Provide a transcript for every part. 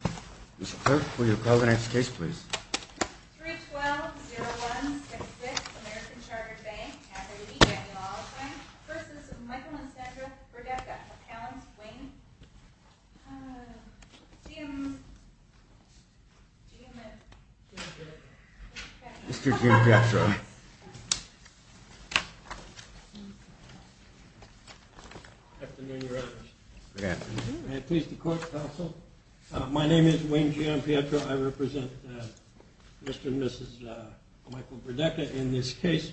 Mr. Clerk, will you call the next case, please? 312-0166, American Chartered Bank, $580,000, v. Michael and Sandra Brdecka, accounts, Wayne. Uh, GM... GM and... Mr. Jim Petro. Afternoon, Your Honors. Good afternoon. May it please the Court, Counsel. My name is Wayne GM Petro. I represent Mr. and Mrs. Michael Brdecka in this case.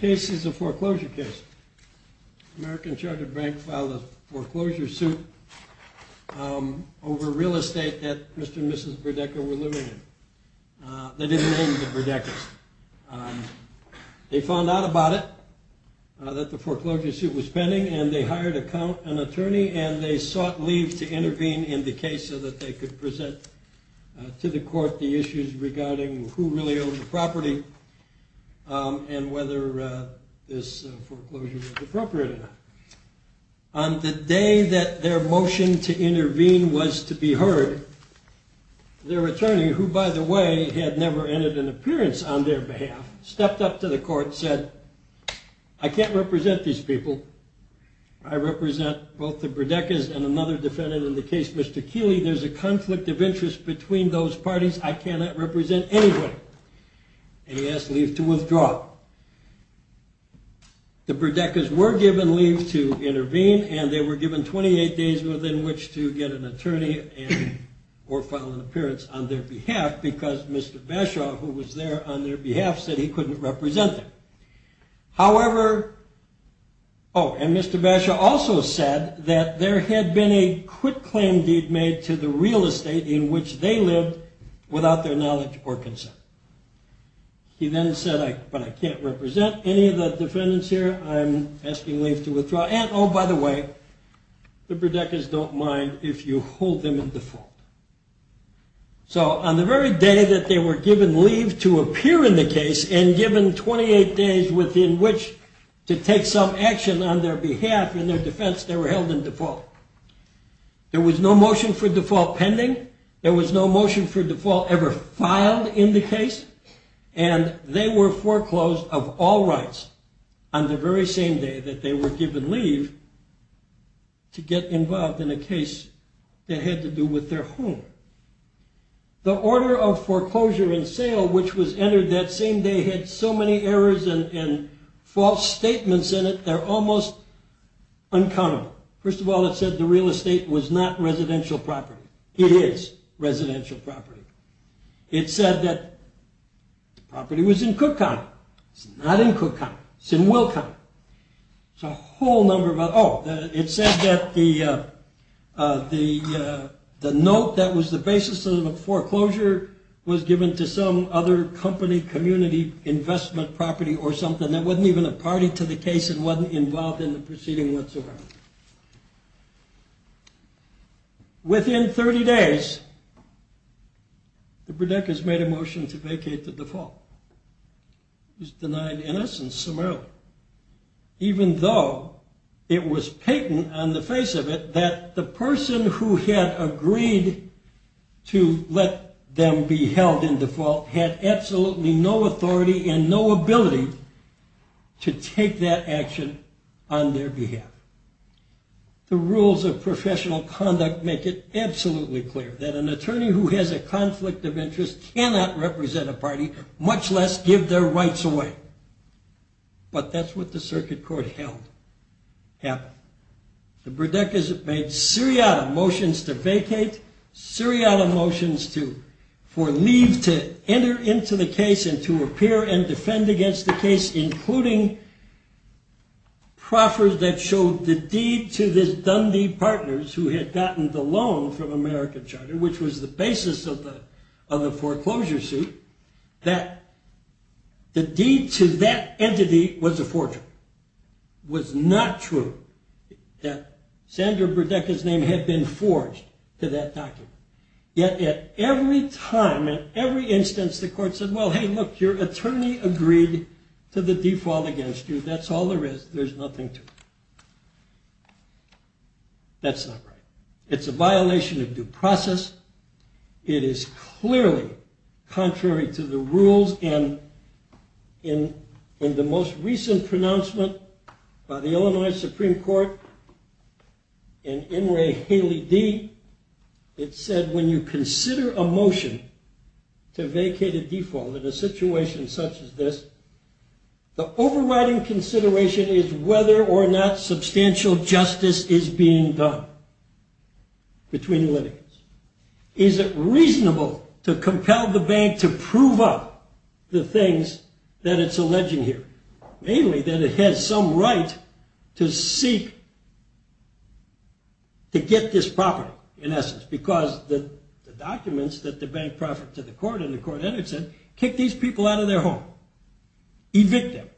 Case is a foreclosure case. American Chartered Bank filed a foreclosure suit over real estate that Mr. and Mrs. Brdecka were living in. They didn't name the Brdeckas. They found out about it, that the foreclosure suit was pending, and they hired an attorney, and they sought leave to intervene in the case so that they could present to the Court the issues regarding who really owned the property and whether this foreclosure was appropriate enough. On the day that their motion to intervene was to be heard, their attorney, who, by the way, had never entered an appearance on their behalf, stepped up to the Court and said, I can't represent these people. I represent both the Brdeckas and another defendant in the case, Mr. Keeley. There's a conflict of interest between those parties. I cannot represent anyone. And he asked leave to withdraw. The Brdeckas were given leave to intervene, and they were given 28 days within which to get an attorney or file an appearance on their behalf because Mr. Bashaw, who was there on their behalf, said he couldn't represent them. However, oh, and Mr. Bashaw also said that there had been a quitclaim deed made to the real estate in which they lived without their knowledge or consent. He then said, but I can't represent any of the defendants here. I'm asking leave to withdraw. And, oh, by the way, the Brdeckas don't mind if you hold them in default. So on the very day that they were given leave to appear in the case and given 28 days within which to take some action on their behalf in their defense, they were held in default. There was no motion for default pending. There was no motion for default ever filed in the case. And they were foreclosed of all rights on the very same day that they were given leave to get involved in a case that had to do with their home. The order of foreclosure and sale, which was entered that same day, had so many errors and false statements in it, they're almost uncountable. First of all, it said the real estate was not residential property. It is residential property. It said that the property was in Cook County. It's not in Cook County. It's in Will County. It's a whole number of other. Oh, it said that the note that was the basis of the foreclosure was given to some other company, community investment property or something that wasn't even a party to the case and wasn't involved in the proceeding whatsoever. Within 30 days, the Bredekas made a motion to vacate the default. It was denied innocence summarily, even though it was patent on the face of it that the person who had agreed to let them be held in default had absolutely no authority and no ability to take that action on their behalf. The rules of professional conduct make it absolutely clear that an attorney who has a conflict of interest cannot represent a party, much less give their rights away. But that's what the circuit court held happened. The Bredekas made seriato motions to vacate, seriato motions for leave to enter into the case and to appear and defend against the case, including proffers that showed the deed to this Dundee Partners, who had gotten the loan from American Charter, which was the basis of the foreclosure suit, that the deed to that entity was a forgery, was not true, that Sandra Bredeka's name had been forged to that document. Yet at every time, at every instance, the court said, well, hey, look, your attorney agreed to the default against you. That's all there is. There's nothing to it. That's not right. It's a violation of due process. It is clearly contrary to the rules. And in the most recent pronouncement by the Illinois Supreme Court, in In Re Haley D, it said, when you consider a motion to vacate a default in a situation such as this, the overriding consideration is whether or not substantial justice is being done between litigants. Is it reasonable to compel the bank to prove up the things that it's alleging here? Mainly that it has some right to seek to get this property, in essence, because the documents that the bank proffered to the court and the court entered said, kick these people out of their home. Evict them.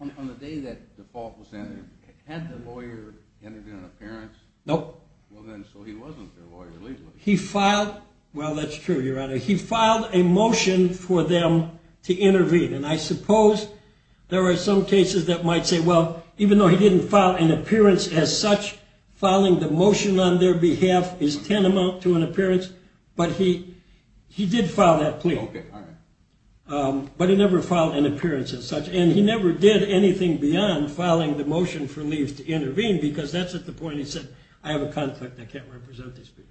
On the day that the fault was entered, had the lawyer entered in an appearance? Nope. Well, then, so he wasn't their lawyer legally. He filed, well, that's true, your honor. He filed a motion for them to intervene. And I suppose there are some cases that might say, well, even though he didn't file an appearance as such, filing the motion on their behalf is tantamount to an appearance, but he did file that plea. Okay, all right. But he never filed an appearance as such. And he never did anything beyond filing the motion for leaves to intervene, because that's at the point he said, I have a conflict. I can't represent these people.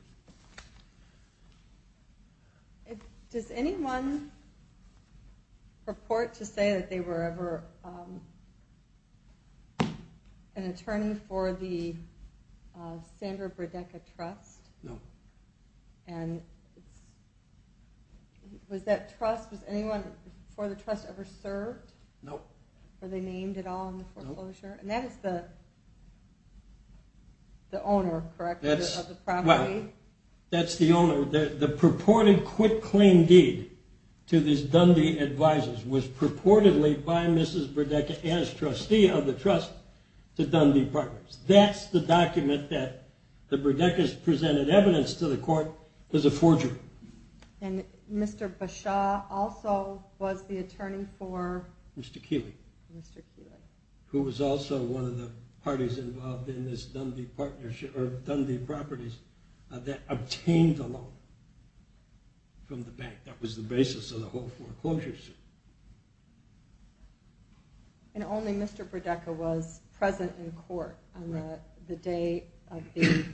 Does anyone report to say that they were ever an attorney for the Sandra Burdecka Trust? No. And was that trust, was anyone for the trust ever served? Nope. Were they named at all in the foreclosure? Nope. And that is the owner, correct, of the property? Well, that's the owner. The purported quitclaim deed to these Dundee advisors was purportedly by Mrs. Burdecka as trustee of the trust to Dundee Partners. That's the document that the Burdeckas presented evidence to the court as a forgery. And Mr. Bashaw also was the attorney for? Mr. Keeley. Mr. Keeley. Who was also one of the parties involved in this Dundee partnership, or Dundee properties that obtained the loan from the bank. That was the basis of the whole foreclosure suit. And only Mr. Burdecka was present in court on the day of the,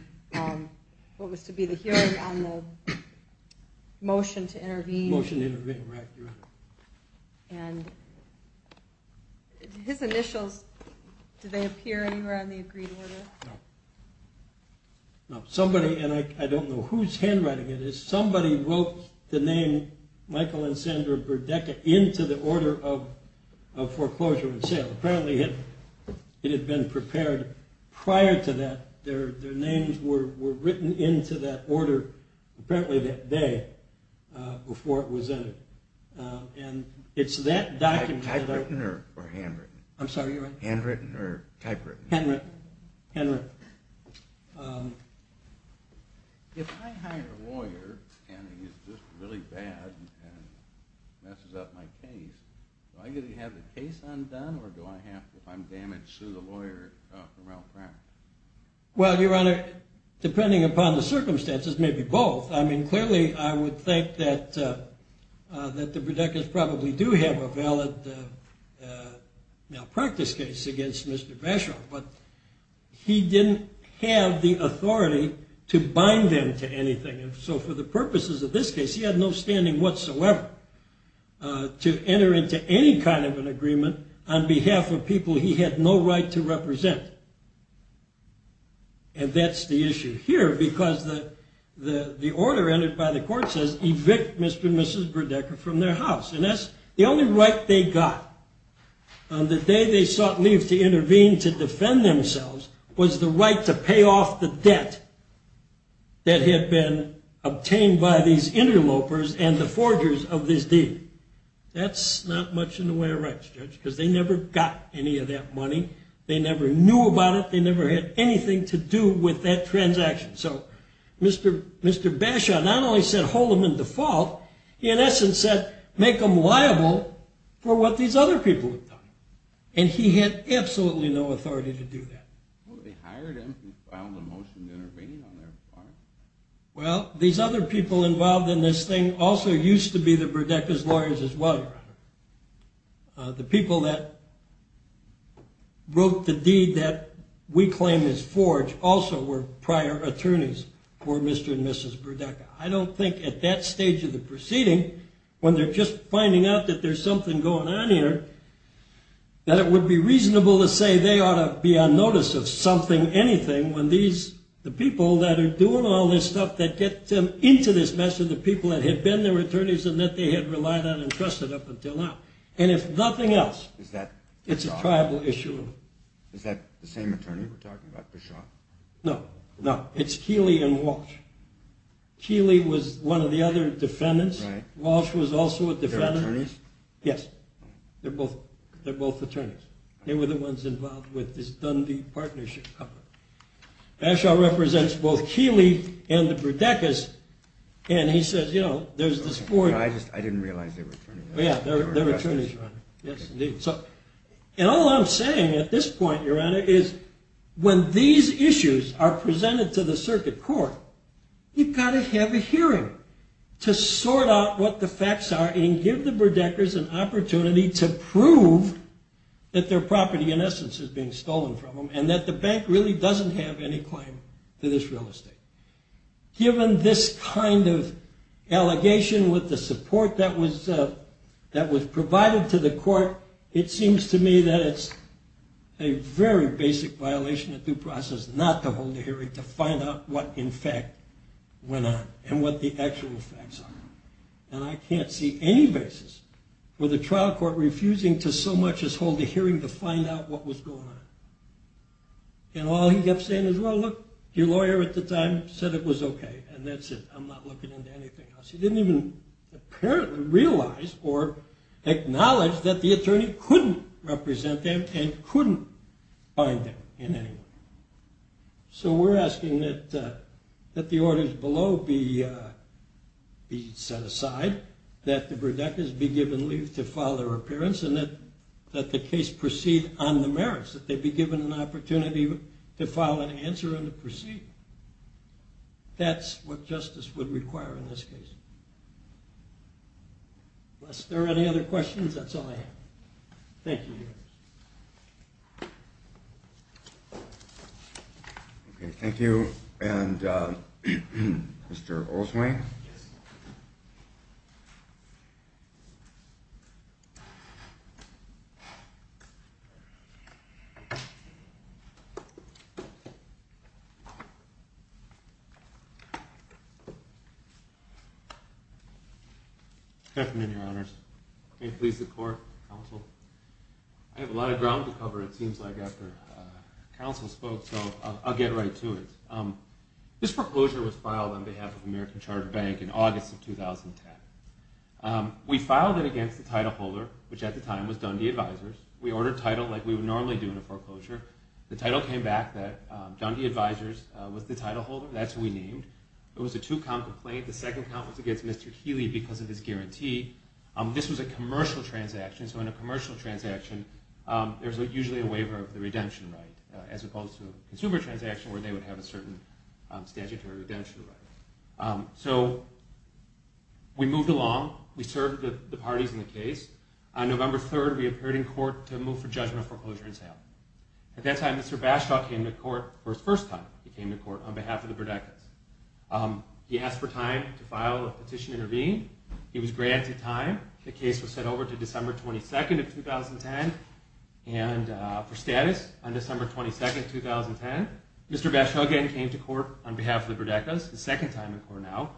what was to be the hearing on the motion to intervene. Motion to intervene, right, you're right. And his initials, do they appear anywhere on the agreed order? No. No, somebody, and I don't know whose handwriting it is, but somebody wrote the name Michael and Sandra Burdecka into the order of foreclosure and sale. Apparently it had been prepared prior to that. Their names were written into that order apparently that day before it was entered. And it's that document. Typewritten or handwritten? I'm sorry, you're right. Handwritten or typewritten? Handwritten. Handwritten. If I hire a lawyer and he's just really bad and messes up my case, do I get to have the case undone or do I have to, if I'm damaged, sue the lawyer for malpractice? Well, Your Honor, depending upon the circumstances, maybe both. I mean, clearly I would think that the Burdeckas probably do have a valid malpractice case against Mr. Bashoff, but he didn't have the authority to bind them to anything. And so for the purposes of this case, he had no standing whatsoever to enter into any kind of an agreement on behalf of people he had no right to represent. And that's the issue here because the order entered by the court says evict Mr. and Mrs. Burdecka from their house, and that's the only right they got. The day they sought leave to intervene to defend themselves was the right to pay off the debt that had been obtained by these interlopers and the forgers of this deal. That's not much in the way of rights, Judge, because they never got any of that money. They never knew about it. They never had anything to do with that transaction. So Mr. Bashoff not only said hold them in default, he in essence said make them liable for what these other people had done, and he had absolutely no authority to do that. Well, they hired him and filed a motion to intervene on their part. Well, these other people involved in this thing also used to be the Burdeckas' lawyers as well, Your Honor. The people that wrote the deed that we claim is forged also were prior attorneys for Mr. and Mrs. Burdecka. I don't think at that stage of the proceeding, when they're just finding out that there's something going on here, that it would be reasonable to say they ought to be on notice of something, anything, when the people that are doing all this stuff that get them into this mess are the people that had been their attorneys and that they had relied on and trusted up until now. And if nothing else, it's a tribal issue. Is that the same attorney we're talking about, Bashoff? No, no. It's Keeley and Walsh. Keeley was one of the other defendants. Walsh was also a defendant. They're attorneys? Yes. They're both attorneys. They were the ones involved with this Dundee partnership. Bashoff represents both Keeley and the Burdeckas, and he says, you know, there's this forged... I didn't realize they were attorneys. Yeah, they're attorneys, Your Honor. Yes, indeed. And all I'm saying at this point, Your Honor, is when these issues are presented to the circuit court, you've got to have a hearing to sort out what the facts are and give the Burdeckas an opportunity to prove that their property in essence is being stolen from them and that the bank really doesn't have any claim to this real estate. Given this kind of allegation with the support that was provided to the court, it seems to me that it's a very basic violation of due process not to hold a hearing to find out what in fact went on and what the actual facts are. And I can't see any basis for the trial court refusing to so much as hold a hearing to find out what was going on. And all he kept saying is, well, look, your lawyer at the time said it was okay, and that's it. I'm not looking into anything else. He didn't even apparently realize or acknowledge that the attorney couldn't represent them and couldn't find them in any way. So we're asking that the orders below be set aside, that the Burdeckas be given leave to file their appearance, and that the case proceed on the merits, that they be given an opportunity to file an answer and to proceed. That's what justice would require in this case. Unless there are any other questions, that's all I have. Thank you. Thank you. Thank you. And Mr. Oldsway? Good afternoon, Your Honors. May it please the Court, Counsel. I have a lot of ground to cover, it seems like, after Counsel spoke, so I'll get right to it. This foreclosure was filed on behalf of American Chartered Bank in August of 2010. We filed it against the title holder, which at the time was Dundee Advisors. We ordered title like we would normally do in a foreclosure. The title came back that Dundee Advisors was the title holder. That's who we named. It was a two-count complaint. The second count was against Mr. Keeley because of his guarantee. This was a commercial transaction, so in a commercial transaction, there's usually a waiver of the redemption right, as opposed to a consumer transaction where they would have a certain statutory redemption right. So we moved along. We served the parties in the case. On November 3rd, we appeared in court to move for judgment of foreclosure and sale. At that time, Mr. Bashtaw came to court for the first time. He came to court on behalf of the Burdekas. He asked for time to file a petition to intervene. He was granted time. The case was sent over to December 22nd of 2010 for status. On December 22nd, 2010, Mr. Bashtaw again came to court on behalf of the Burdekas, the second time in court now.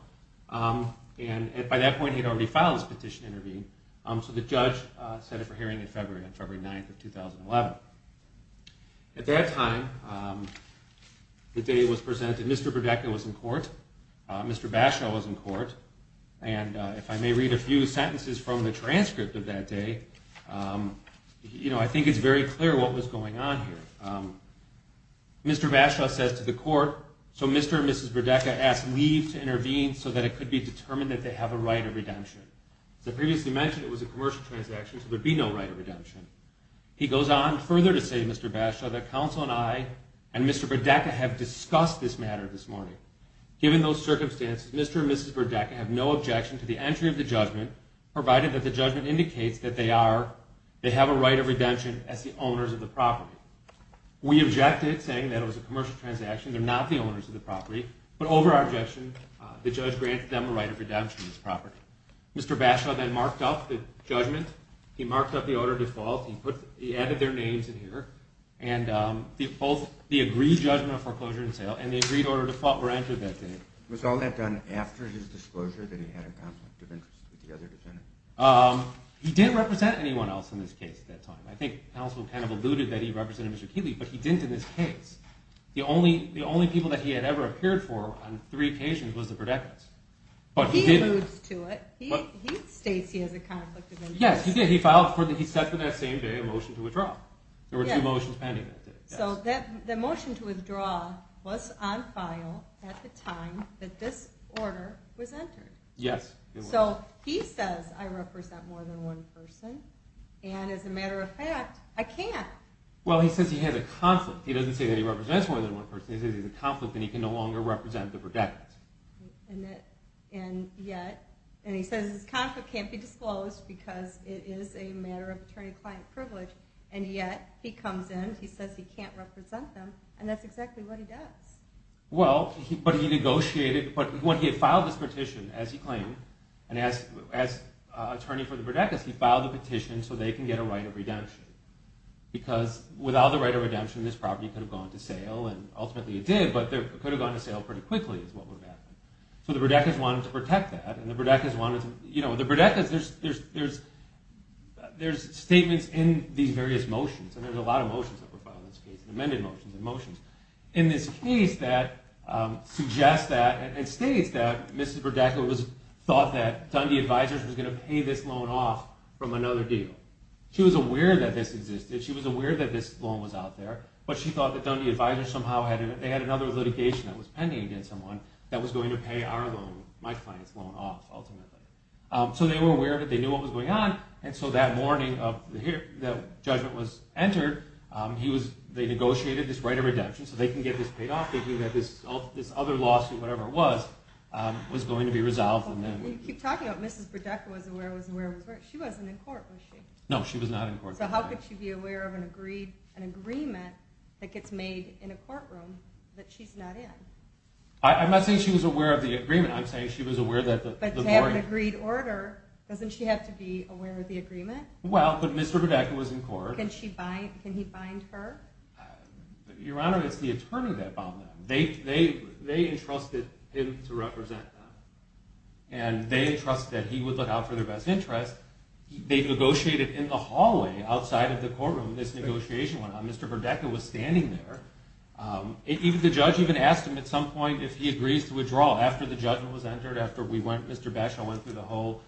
By that point, he had already filed his petition to intervene, so the judge set it for hearing on February 9th of 2011. At that time, the day it was presented, Mr. Burdeka was in court, Mr. Bashtaw was in court, and if I may read a few sentences from the transcript of that day, I think it's very clear what was going on here. Mr. Bashtaw says to the court, so Mr. and Mrs. Burdeka asked leave to intervene so that it could be determined that they have a right of redemption. As I previously mentioned, it was a commercial transaction, so there would be no right of redemption. He goes on further to say, Mr. Bashtaw, that counsel and I and Mr. Burdeka have discussed this matter this morning. Given those circumstances, Mr. and Mrs. Burdeka have no objection to the entry of the judgment, provided that the judgment indicates that they have a right of redemption as the owners of the property. We objected, saying that it was a commercial transaction, they're not the owners of the property, but over our objection, the judge granted them a right of redemption of this property. Mr. Bashtaw then marked off the judgment. He marked off the order of default. He added their names in here. Both the agreed judgment of foreclosure and sale and the agreed order of default were entered that day. Was all that done after his disclosure that he had a conflict of interest with the other defendants? He didn't represent anyone else in this case at that time. I think counsel kind of alluded that he represented Mr. Keeley, but he didn't in this case. The only people that he had ever appeared for on three occasions was the Burdekas. He alludes to it. He states he has a conflict of interest. Yes, he did. He set for that same day a motion to withdraw. There were two motions pending that day. So the motion to withdraw was on file at the time that this order was entered. Yes. So he says, I represent more than one person, and as a matter of fact, I can't. Well, he says he has a conflict. He doesn't say that he represents more than one person. He says he has a conflict and he can no longer represent the Burdekas. And yet, he says his conflict can't be disclosed because it is a matter of attorney-client privilege, and yet he comes in, he says he can't represent them, and that's exactly what he does. Well, but he negotiated, but when he had filed this petition, as he claimed, as attorney for the Burdekas, he filed the petition so they can get a right of redemption because without the right of redemption, this property could have gone to sale, and ultimately it did, but it could have gone to sale pretty quickly is what would have happened. So the Burdekas wanted to protect that, and the Burdekas wanted to, you know, the Burdekas, there's statements in these various motions, and there's a lot of motions that were filed in this case, amended motions and motions, in this case that suggests that, and states that Mrs. Burdekas thought that Dundee Advisors was going to pay this loan off from another deal. She was aware that this existed. She was aware that this loan was out there, but she thought that Dundee Advisors somehow had, they had another litigation that was pending against someone that was going to pay our loan, my client's loan off, ultimately. So they were aware of it, they knew what was going on, and so that morning that judgment was entered, they negotiated this right of redemption so they can get this paid off, thinking that this other lawsuit, whatever it was, was going to be resolved. You keep talking about Mrs. Burdekas was aware, she wasn't in court, was she? No, she was not in court. So how could she be aware of an agreement that gets made in a courtroom that she's not in? I'm not saying she was aware of the agreement, I'm saying she was aware that the mortgage... But to have an agreed order, doesn't she have to be aware of the agreement? Well, but Mr. Burdekas was in court. Can she bind, can he bind her? Your Honor, it's the attorney that bound them. They entrusted him to represent them, and they entrusted he would look out for their best interest. They negotiated in the hallway, outside of the courtroom, this negotiation went on. Mr. Burdekas was standing there. The judge even asked him at some point if he agrees to withdraw. After the judgment was entered, after Mr. Batchel went through the whole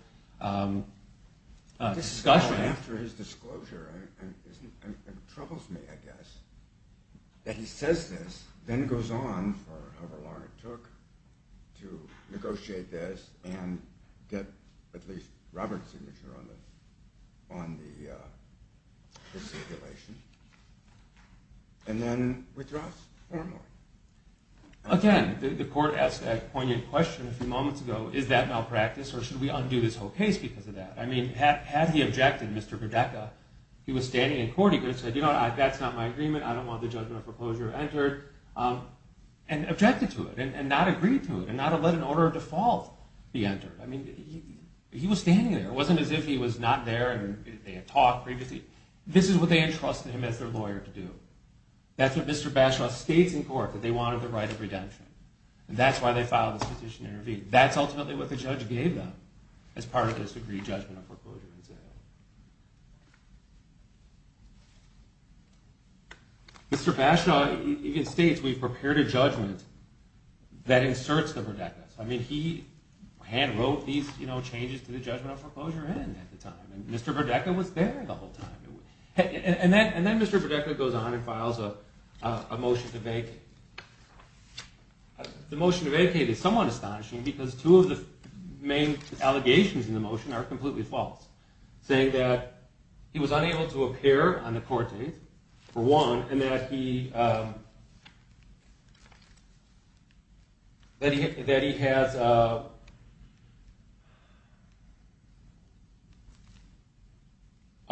discussion. After his disclosure, it troubles me, I guess, that he says this, then goes on for however long it took to negotiate this and get at least Robert's signature on the stipulation. And then withdraws formally. Again, the court asked that poignant question a few moments ago, is that malpractice or should we undo this whole case because of that? I mean, had he objected, Mr. Burdekas, he was standing in court, he could have said, you know, that's not my agreement, I don't want the judgment of proposal entered, and objected to it, and not agreed to it, and not let an order of default be entered. I mean, he was standing there. It wasn't as if he was not there and they had talked previously. This is what they entrusted him as their lawyer to do. That's what Mr. Batchel states in court, that they wanted the right of redemption. And that's why they filed this petition to intervene. That's ultimately what the judge gave them as part of this agreed judgment of foreclosure. Mr. Batchel even states, we've prepared a judgment that inserts the Burdekas. I mean, he had wrote these changes to the judgment of foreclosure in at the time. Mr. Burdekas was there the whole time. And then Mr. Burdekas goes on and files a motion to vacate. The motion to vacate is somewhat astonishing because two of the main allegations in the motion are completely false, saying that he was unable to appear on the court date, for one, and that he has a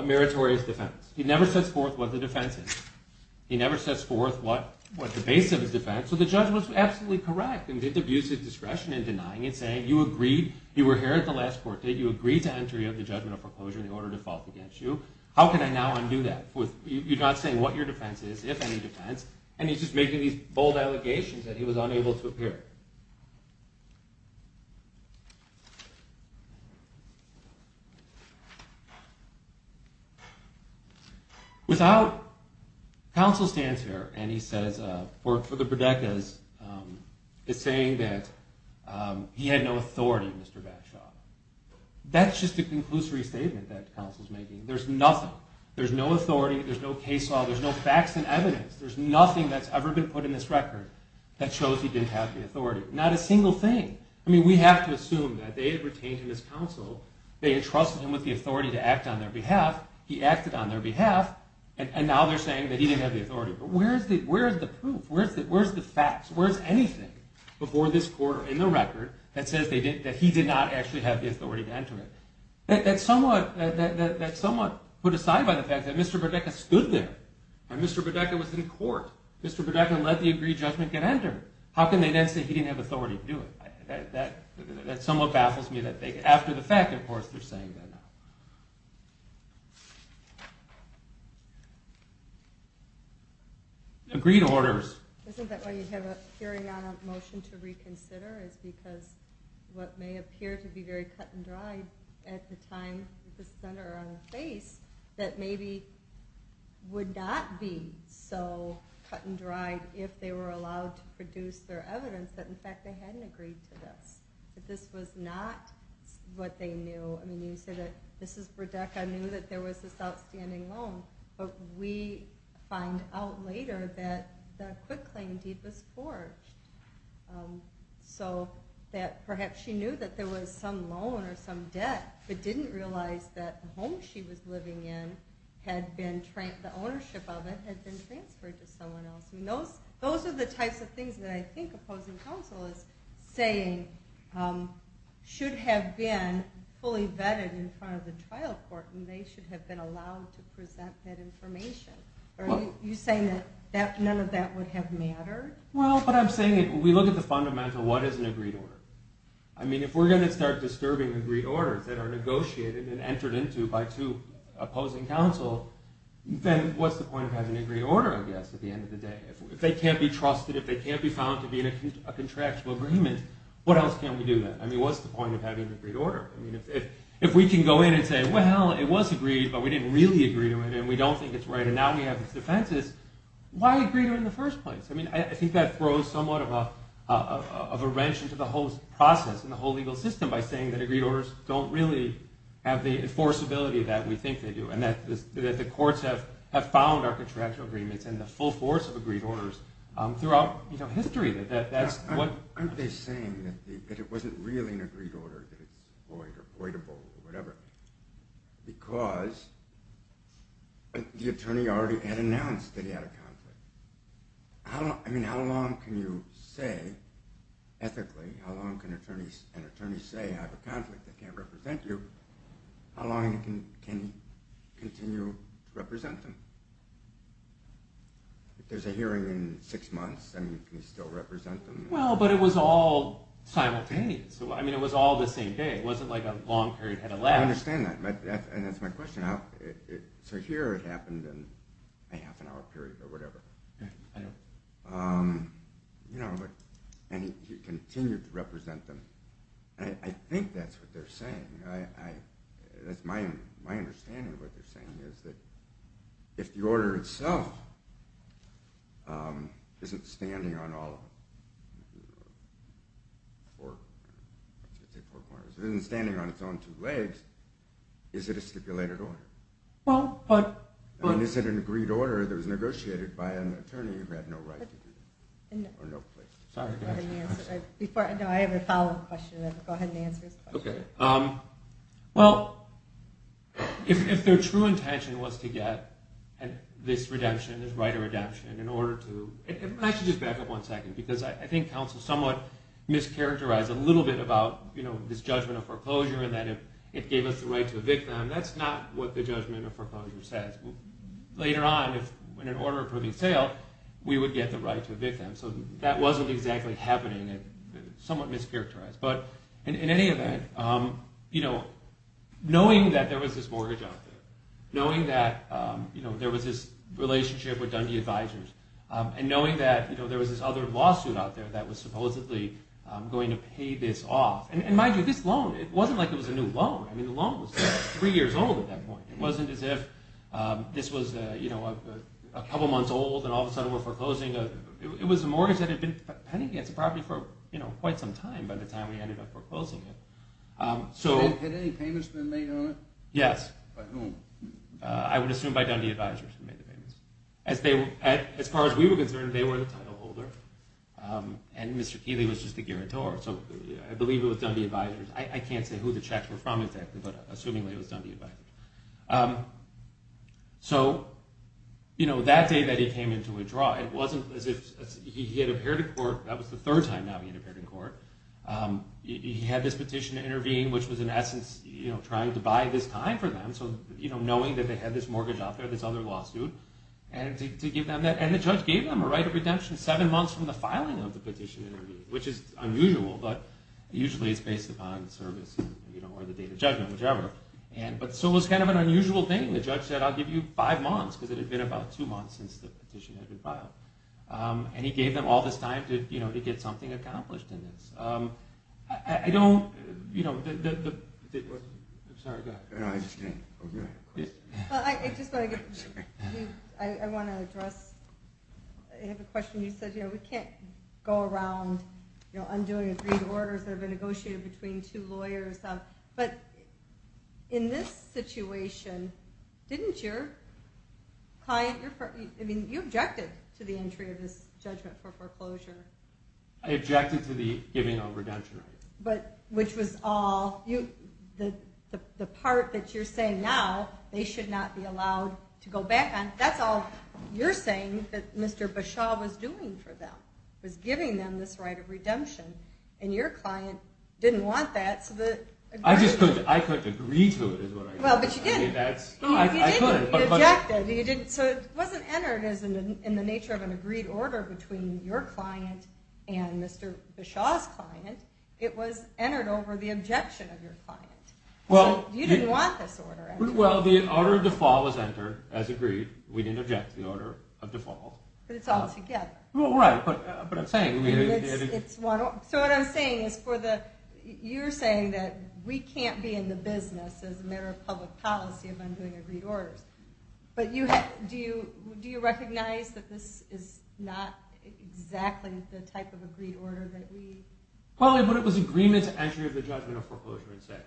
meritorious defense. He never sets forth what the defense is. He never sets forth what the base of his defense. So the judge was absolutely correct in the abusive discretion in denying it, saying you agreed, you were here at the last court date, you agreed to entry of the judgment of foreclosure in the order of default against you. How can I now undo that? You're not saying what your defense is, if any defense, and he's just making these bold allegations that he was unable to appear. Without counsel stands here, and he says, for the Burdekas, it's saying that he had no authority, Mr. Batshaw. That's just a conclusory statement that counsel's making. There's nothing. There's no authority. There's no case law. There's no facts and evidence. There's nothing that's ever been put in this record that shows he didn't have the authority. Not a single thing. I mean, we have to assume that they had retained him as counsel, they entrusted him with the authority to act on their behalf, he acted on their behalf, and now they're saying that he didn't have the authority. But where is the proof? Where's the facts? Where's anything before this court or in the record that says that he did not actually have the authority to enter it? That's somewhat put aside by the fact that Mr. Burdekas stood there. And Mr. Burdekas was in court. Mr. Burdekas let the agreed judgment get entered. How can they then say he didn't have authority to do it? That somewhat baffles me that after the fact, of course, they're saying that now. Agreed orders. Isn't that why you have a hearing on a motion to reconsider is because what may appear to be very cut and dried at the time, at the center or on the face, that maybe would not be so cut and dried if they were allowed to produce their evidence that, in fact, they hadn't agreed to this. That this was not what they knew. I mean, you said that Mrs. Burdekas knew that there was this outstanding loan, but we find out later that the acquit claim deed was forged. So that perhaps she knew that there was some loan or some debt, but didn't realize that the home she was living in, the ownership of it, had been transferred to someone else. Those are the types of things that I think opposing counsel is saying should have been fully vetted in front of the trial court and they should have been allowed to present that information. Are you saying that none of that would have mattered? Well, but I'm saying if we look at the fundamental, what is an agreed order? I mean, if we're going to start disturbing agreed orders that are negotiated and entered into by two opposing counsel, then what's the point of having an agreed order, I guess, at the end of the day? If they can't be trusted, if they can't be found to be in a contractual agreement, what else can we do then? I mean, what's the point of having an agreed order? I mean, if we can go in and say, well, it was agreed, but we didn't really agree to it and we don't think it's right and now we have these defenses, why agree to it in the first place? I mean, I think that throws somewhat of a wrench into the whole process and the whole legal system by saying that agreed orders don't really have the enforceability that we think they do and that the courts have found our contractual agreements and the full force of agreed orders throughout history. Aren't they saying that it wasn't really an agreed order, that it's void or voidable or whatever because the attorney already had announced that he had a conflict? I mean, how long can you say, ethically, how long can an attorney say I have a conflict that can't represent you? How long can he continue to represent them? If there's a hearing in six months, can he still represent them? Well, but it was all simultaneous. I mean, it was all the same day. It wasn't like a long period had elapsed. I understand that, and that's my question. So here it happened in a half an hour period or whatever. And he continued to represent them. I think that's what they're saying. That's my understanding of what they're saying is that if the order itself isn't standing on all four corners, isn't standing on its own two legs, is it a stipulated order? Well, but... I mean, is it an agreed order that was negotiated by an attorney who had no right to do that? No. Sorry. No, I have a follow-up question. Go ahead and answer his question. Okay. Well, if their true intention was to get this redemption, this right of redemption, in order to... I should just back up one second because I think counsel somewhat mischaracterized a little bit about this judgment of foreclosure and that it gave us the right to evict them. That's not what the judgment of foreclosure says. Later on, if in an order of proving sale, we would get the right to evict them. So that wasn't exactly happening. It's somewhat mischaracterized. But in any event, you know, knowing that there was this mortgage out there, knowing that there was this relationship with Dundee Advisors, and knowing that there was this other lawsuit out there that was supposedly going to pay this off... And mind you, this loan, it wasn't like it was a new loan. I mean, the loan was three years old at that point. It wasn't as if this was, you know, a couple months old and all of a sudden we're foreclosing. It was a mortgage that had been pending against the property for, you know, quite some time by the time we ended up foreclosing it. Had any payments been made on it? Yes. By whom? I would assume by Dundee Advisors who made the payments. As far as we were concerned, they were the titleholder. And Mr. Keeley was just the guarantor. So I believe it was Dundee Advisors. I can't say who the checks were from exactly, but assuming it was Dundee Advisors. So, you know, that day that he came into a draw, it wasn't as if he had appeared in court. That was the third time now he had appeared in court. He had this petition to intervene, which was in essence, you know, trying to buy this time for them. So, you know, knowing that they had this mortgage out there, this other lawsuit, and to give them that. And the judge gave them a right of redemption seven months from the filing of the petition, which is unusual, but usually it's based upon service or the date of judgment, whichever. So it was kind of an unusual thing. The judge said, I'll give you five months, because it had been about two months since the petition had been filed. And he gave them all this time to get something accomplished in this. I don't, you know, the... I'm sorry, go ahead. I understand. Well, I just want to get... I want to address... I have a question. You said, you know, we can't go around, you know, undoing agreed orders that have been negotiated between two lawyers. But in this situation, didn't your client... I mean, you objected to the entry of this judgment for foreclosure. I objected to the giving of redemption rights. But, which was all... The part that you're saying now, they should not be allowed to go back on, that's all you're saying that Mr. Bashaw was doing for them, was giving them this right of redemption. And your client didn't want that, so that... I just couldn't... I couldn't agree to it, is what I said. Well, but you did. I mean, that's... You did, but you objected. So it wasn't entered in the nature of an agreed order between your client and Mr. Bashaw's client. It was entered over the objection of your client. So you didn't want this order. Well, the order of default was entered as agreed. We didn't object to the order of default. But it's all together. Well, right, but I'm saying... It's one... So what I'm saying is for the... You're saying that we can't be in the business as a matter of public policy of undoing agreed orders. But do you recognize that this is not exactly the type of agreed order that we... Well, but it was agreement to entry of the judgment of foreclosure and sale.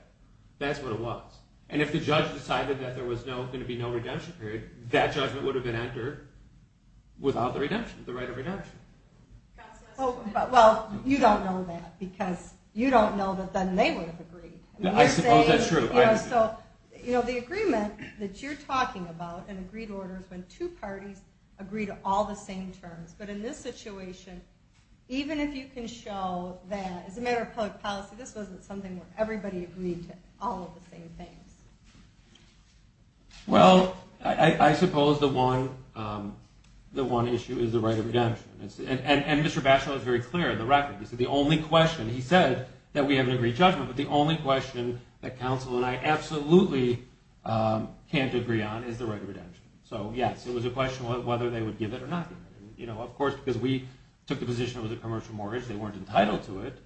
That's what it was. And if the judge decided that there was going to be no redemption period, that judgment would have been entered without the redemption, the right of redemption. Well, you don't know that, because you don't know that then they would have agreed. I suppose that's true. So the agreement that you're talking about in agreed orders when two parties agree to all the same terms. But in this situation, even if you can show that as a matter of public policy, this wasn't something where everybody agreed to all of the same things. Well, I suppose the one issue is the right of redemption. And Mr. Bachelet was very clear in the record. He said the only question... He said that we have an agreed judgment, but the only question that counsel and I absolutely can't agree on is the right of redemption. So, yes, it was a question of whether they would give it or not give it. Of course, because we took the position it was a commercial mortgage, they weren't entitled to it.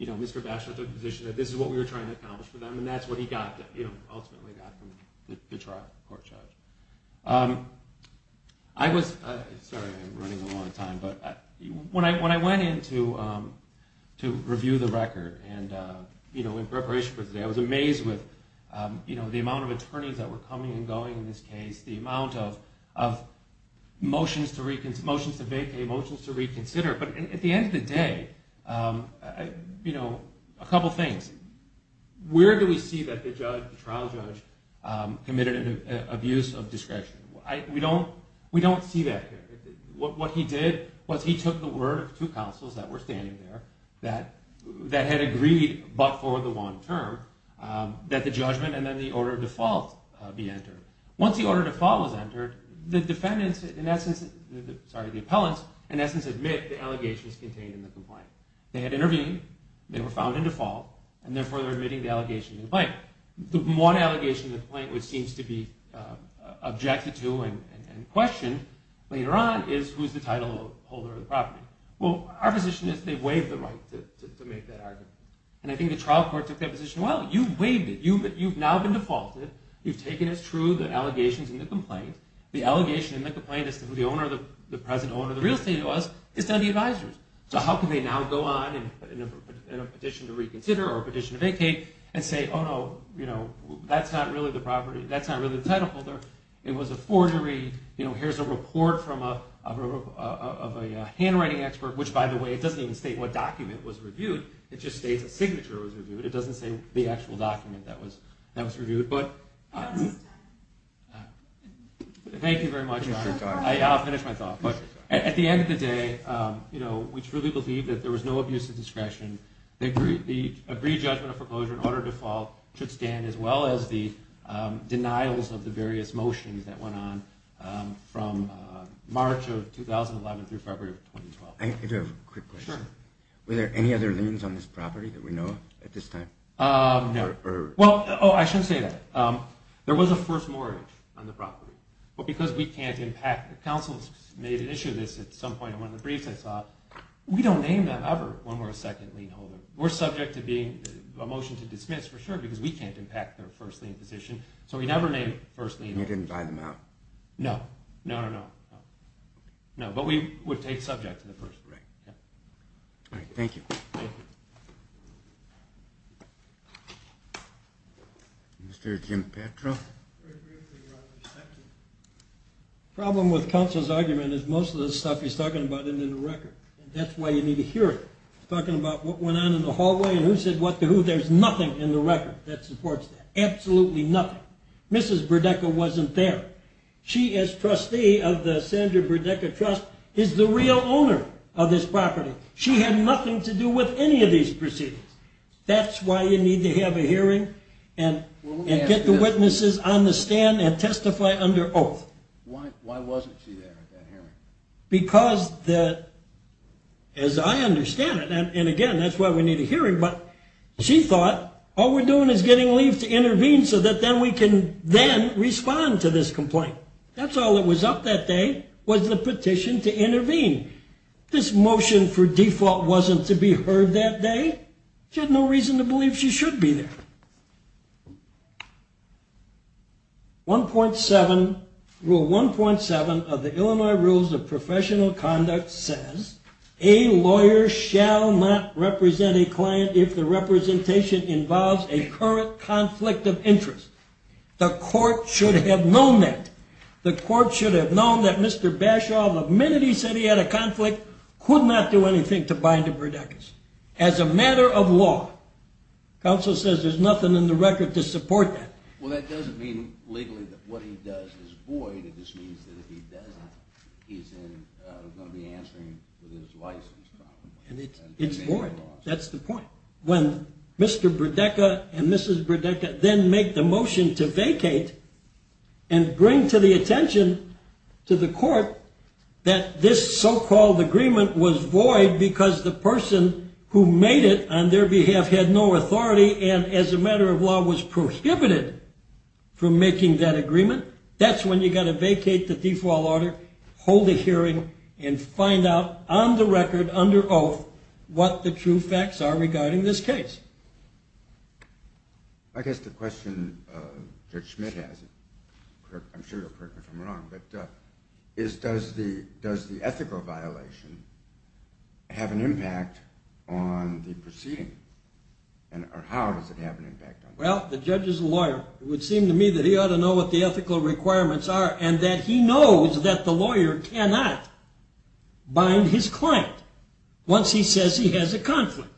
Mr. Bachelet took the position that this is what we were trying to accomplish for them, and that's what he ultimately got from the court judge. Sorry, I'm running a long time. When I went in to review the record in preparation for today, I was amazed with the amount of attorneys that were coming and going in this case, the amount of motions to vacate, motions to reconsider. But at the end of the day, a couple things. Where do we see that the trial judge committed an abuse of discretion? We don't see that here. What he did was he took the word of two counsels that were standing there that had agreed but for the one term that the judgment and then the order of default be entered. Once the order of default was entered, the defendants in essence, sorry, the appellants, in essence admit the allegations contained in the complaint. They had intervened, they were found in default, and therefore they're admitting the allegation in the complaint. The one allegation in the complaint which seems to be objected to and questioned later on is who's the title holder of the property. Well, our position is they waived the right to make that argument. And I think the trial court took that position well. You waived it. You've now been defaulted. You've taken as true the allegations in the complaint. The allegation in the complaint as to who the present owner of the real estate was is now the advisors. So how can they now go on in a petition to reconsider or a petition to vacate and say, oh, no, that's not really the title holder. It was a forgery. Here's a report of a handwriting expert, which by the way, it doesn't even state what document was reviewed. It just states a signature was reviewed. It doesn't say the actual document that was reviewed. Thank you very much. I'll finish my thought. But at the end of the day, we truly believe that there was no abuse of discretion. The agreed judgment of foreclosure and order of default should stand as well as the denials of the various motions that went on from March of 2011 through February of 2012. I do have a quick question. Sure. Were there any other liens on this property that we know of at this time? No. Oh, I shouldn't say that. There was a first mortgage on the property. But because we can't impact, the council made an issue of this at some point in one of the briefs I saw. We don't name that ever when we're a second lien holder. We're subject to being a motion to dismiss for sure because we can't impact their first lien position. So we never named first lien holders. You didn't buy them out? No. No, no, no. But we would take subject to the first. All right. Thank you. Thank you. Mr. Jim Petra. The problem with counsel's argument is most of the stuff he's talking about isn't in the record. That's why you need to hear it. He's talking about what went on in the hallway and who said what to who. There's nothing in the record that supports that. Absolutely nothing. Mrs. Burdecka wasn't there. She, as trustee of the Sandra Burdecka Trust, is the real owner of this property. She had nothing to do with any of these proceedings. That's why you need to have a hearing and get the witnesses on the stand and testify under oath. Why wasn't she there at that hearing? Because, as I understand it, and again, that's why we need a hearing, but she thought all we're doing is getting leave to intervene so that then we can then respond to this complaint. That's all that was up that day was the petition to intervene. This motion for default wasn't to be heard that day. She had no reason to believe she should be there. Rule 1.7 of the Illinois Rules of Professional Conduct says, a lawyer shall not represent a client if the representation involves a current conflict of interest. The court should have known that. The court should have known that Mr. Bashaw, the minute he said he had a conflict, could not do anything to bind to Burdecka's. As a matter of law, counsel says there's nothing in the record to support that. Well, that doesn't mean legally that what he does is void. It just means that if he doesn't, he's going to be answering with his license, probably. It's void. That's the point. When Mr. Burdecka and Mrs. Burdecka then make the motion to vacate and bring to the attention to the court that this so-called agreement was void because the person who made it on their behalf had no authority and as a matter of law was prohibited from making that agreement, that's when you've got to vacate the default order, hold a hearing, and find out on the record under oath what the true facts are regarding this case. I guess the question Judge Schmidt has, I'm sure you'll correct me if I'm wrong, but is does the ethical violation have an impact on the proceeding? Or how does it have an impact on the proceeding? Well, the judge is a lawyer. It would seem to me that he ought to know what the ethical requirements are and that he knows that the lawyer cannot bind his client once he says he has a conflict.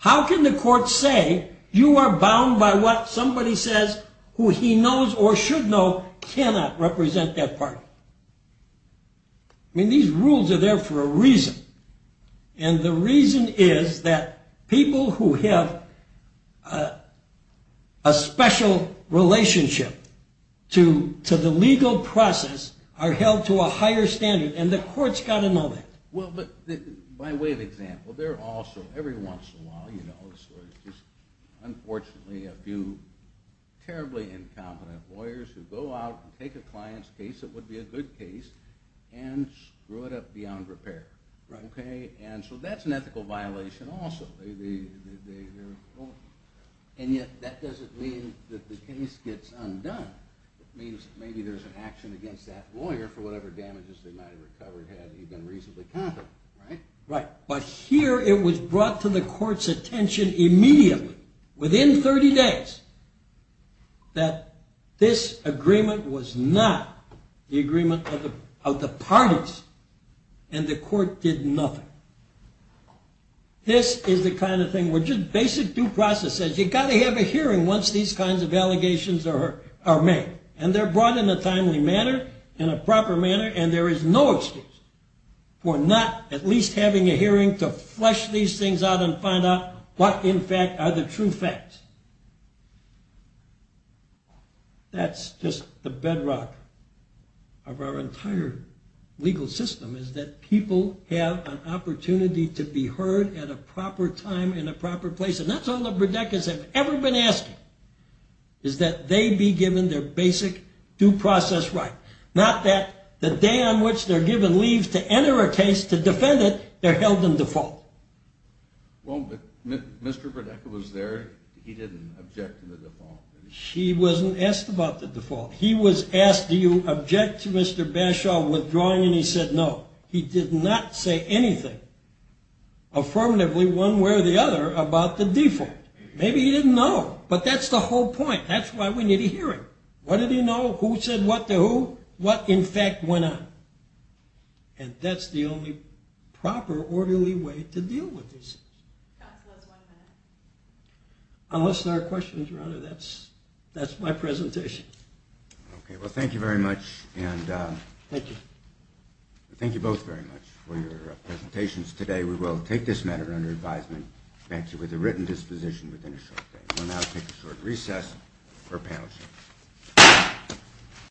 How can the court say you are bound by what somebody says who he knows or should know cannot represent that party? I mean, these rules are there for a reason. And the reason is that people who have a special relationship to the legal process are held to a higher standard and the court's got to know that. Well, but by way of example, there are also every once in a while, you know, unfortunately a few terribly incompetent lawyers who go out and take a client's case that would be a good case and screw it up beyond repair. And so that's an ethical violation also. And yet that doesn't mean that the case gets undone. It means maybe there's an action against that lawyer for whatever damages they might have recovered had he been reasonably competent, right? Right. But here it was brought to the court's attention immediately, within 30 days, that this agreement was not the agreement of the parties and the court did nothing. This is the kind of thing where just basic due process says you've got to have a hearing once these kinds of allegations are made. And they're brought in a timely manner, in a proper manner, and there is no excuse for not at least having a hearing to flesh these things out and find out what in fact are the true facts. That's just the bedrock of our entire legal system is that people have an opportunity to be heard at a proper time in a proper place. And that's all the Bredekas have ever been asking is that they be given their basic due process right. Not that the day on which they're given leave to enter a case, to defend it, they're held in default. Well, but Mr. Bredeka was there. He didn't object to the default. He wasn't asked about the default. He was asked, do you object to Mr. Bashaw withdrawing? And he said no. He did not say anything affirmatively one way or the other about the default. Maybe he didn't know, but that's the whole point. That's why we need a hearing. What did he know? Who said what to who? What in fact went on? And that's the only proper orderly way to deal with these things. Unless there are questions around it, that's my presentation. Okay, well, thank you very much. Thank you. Thank you both very much for your presentations today. We will take this matter under advisement. Thank you. With a written disposition within a short time. We'll now take a short recess for a panel session.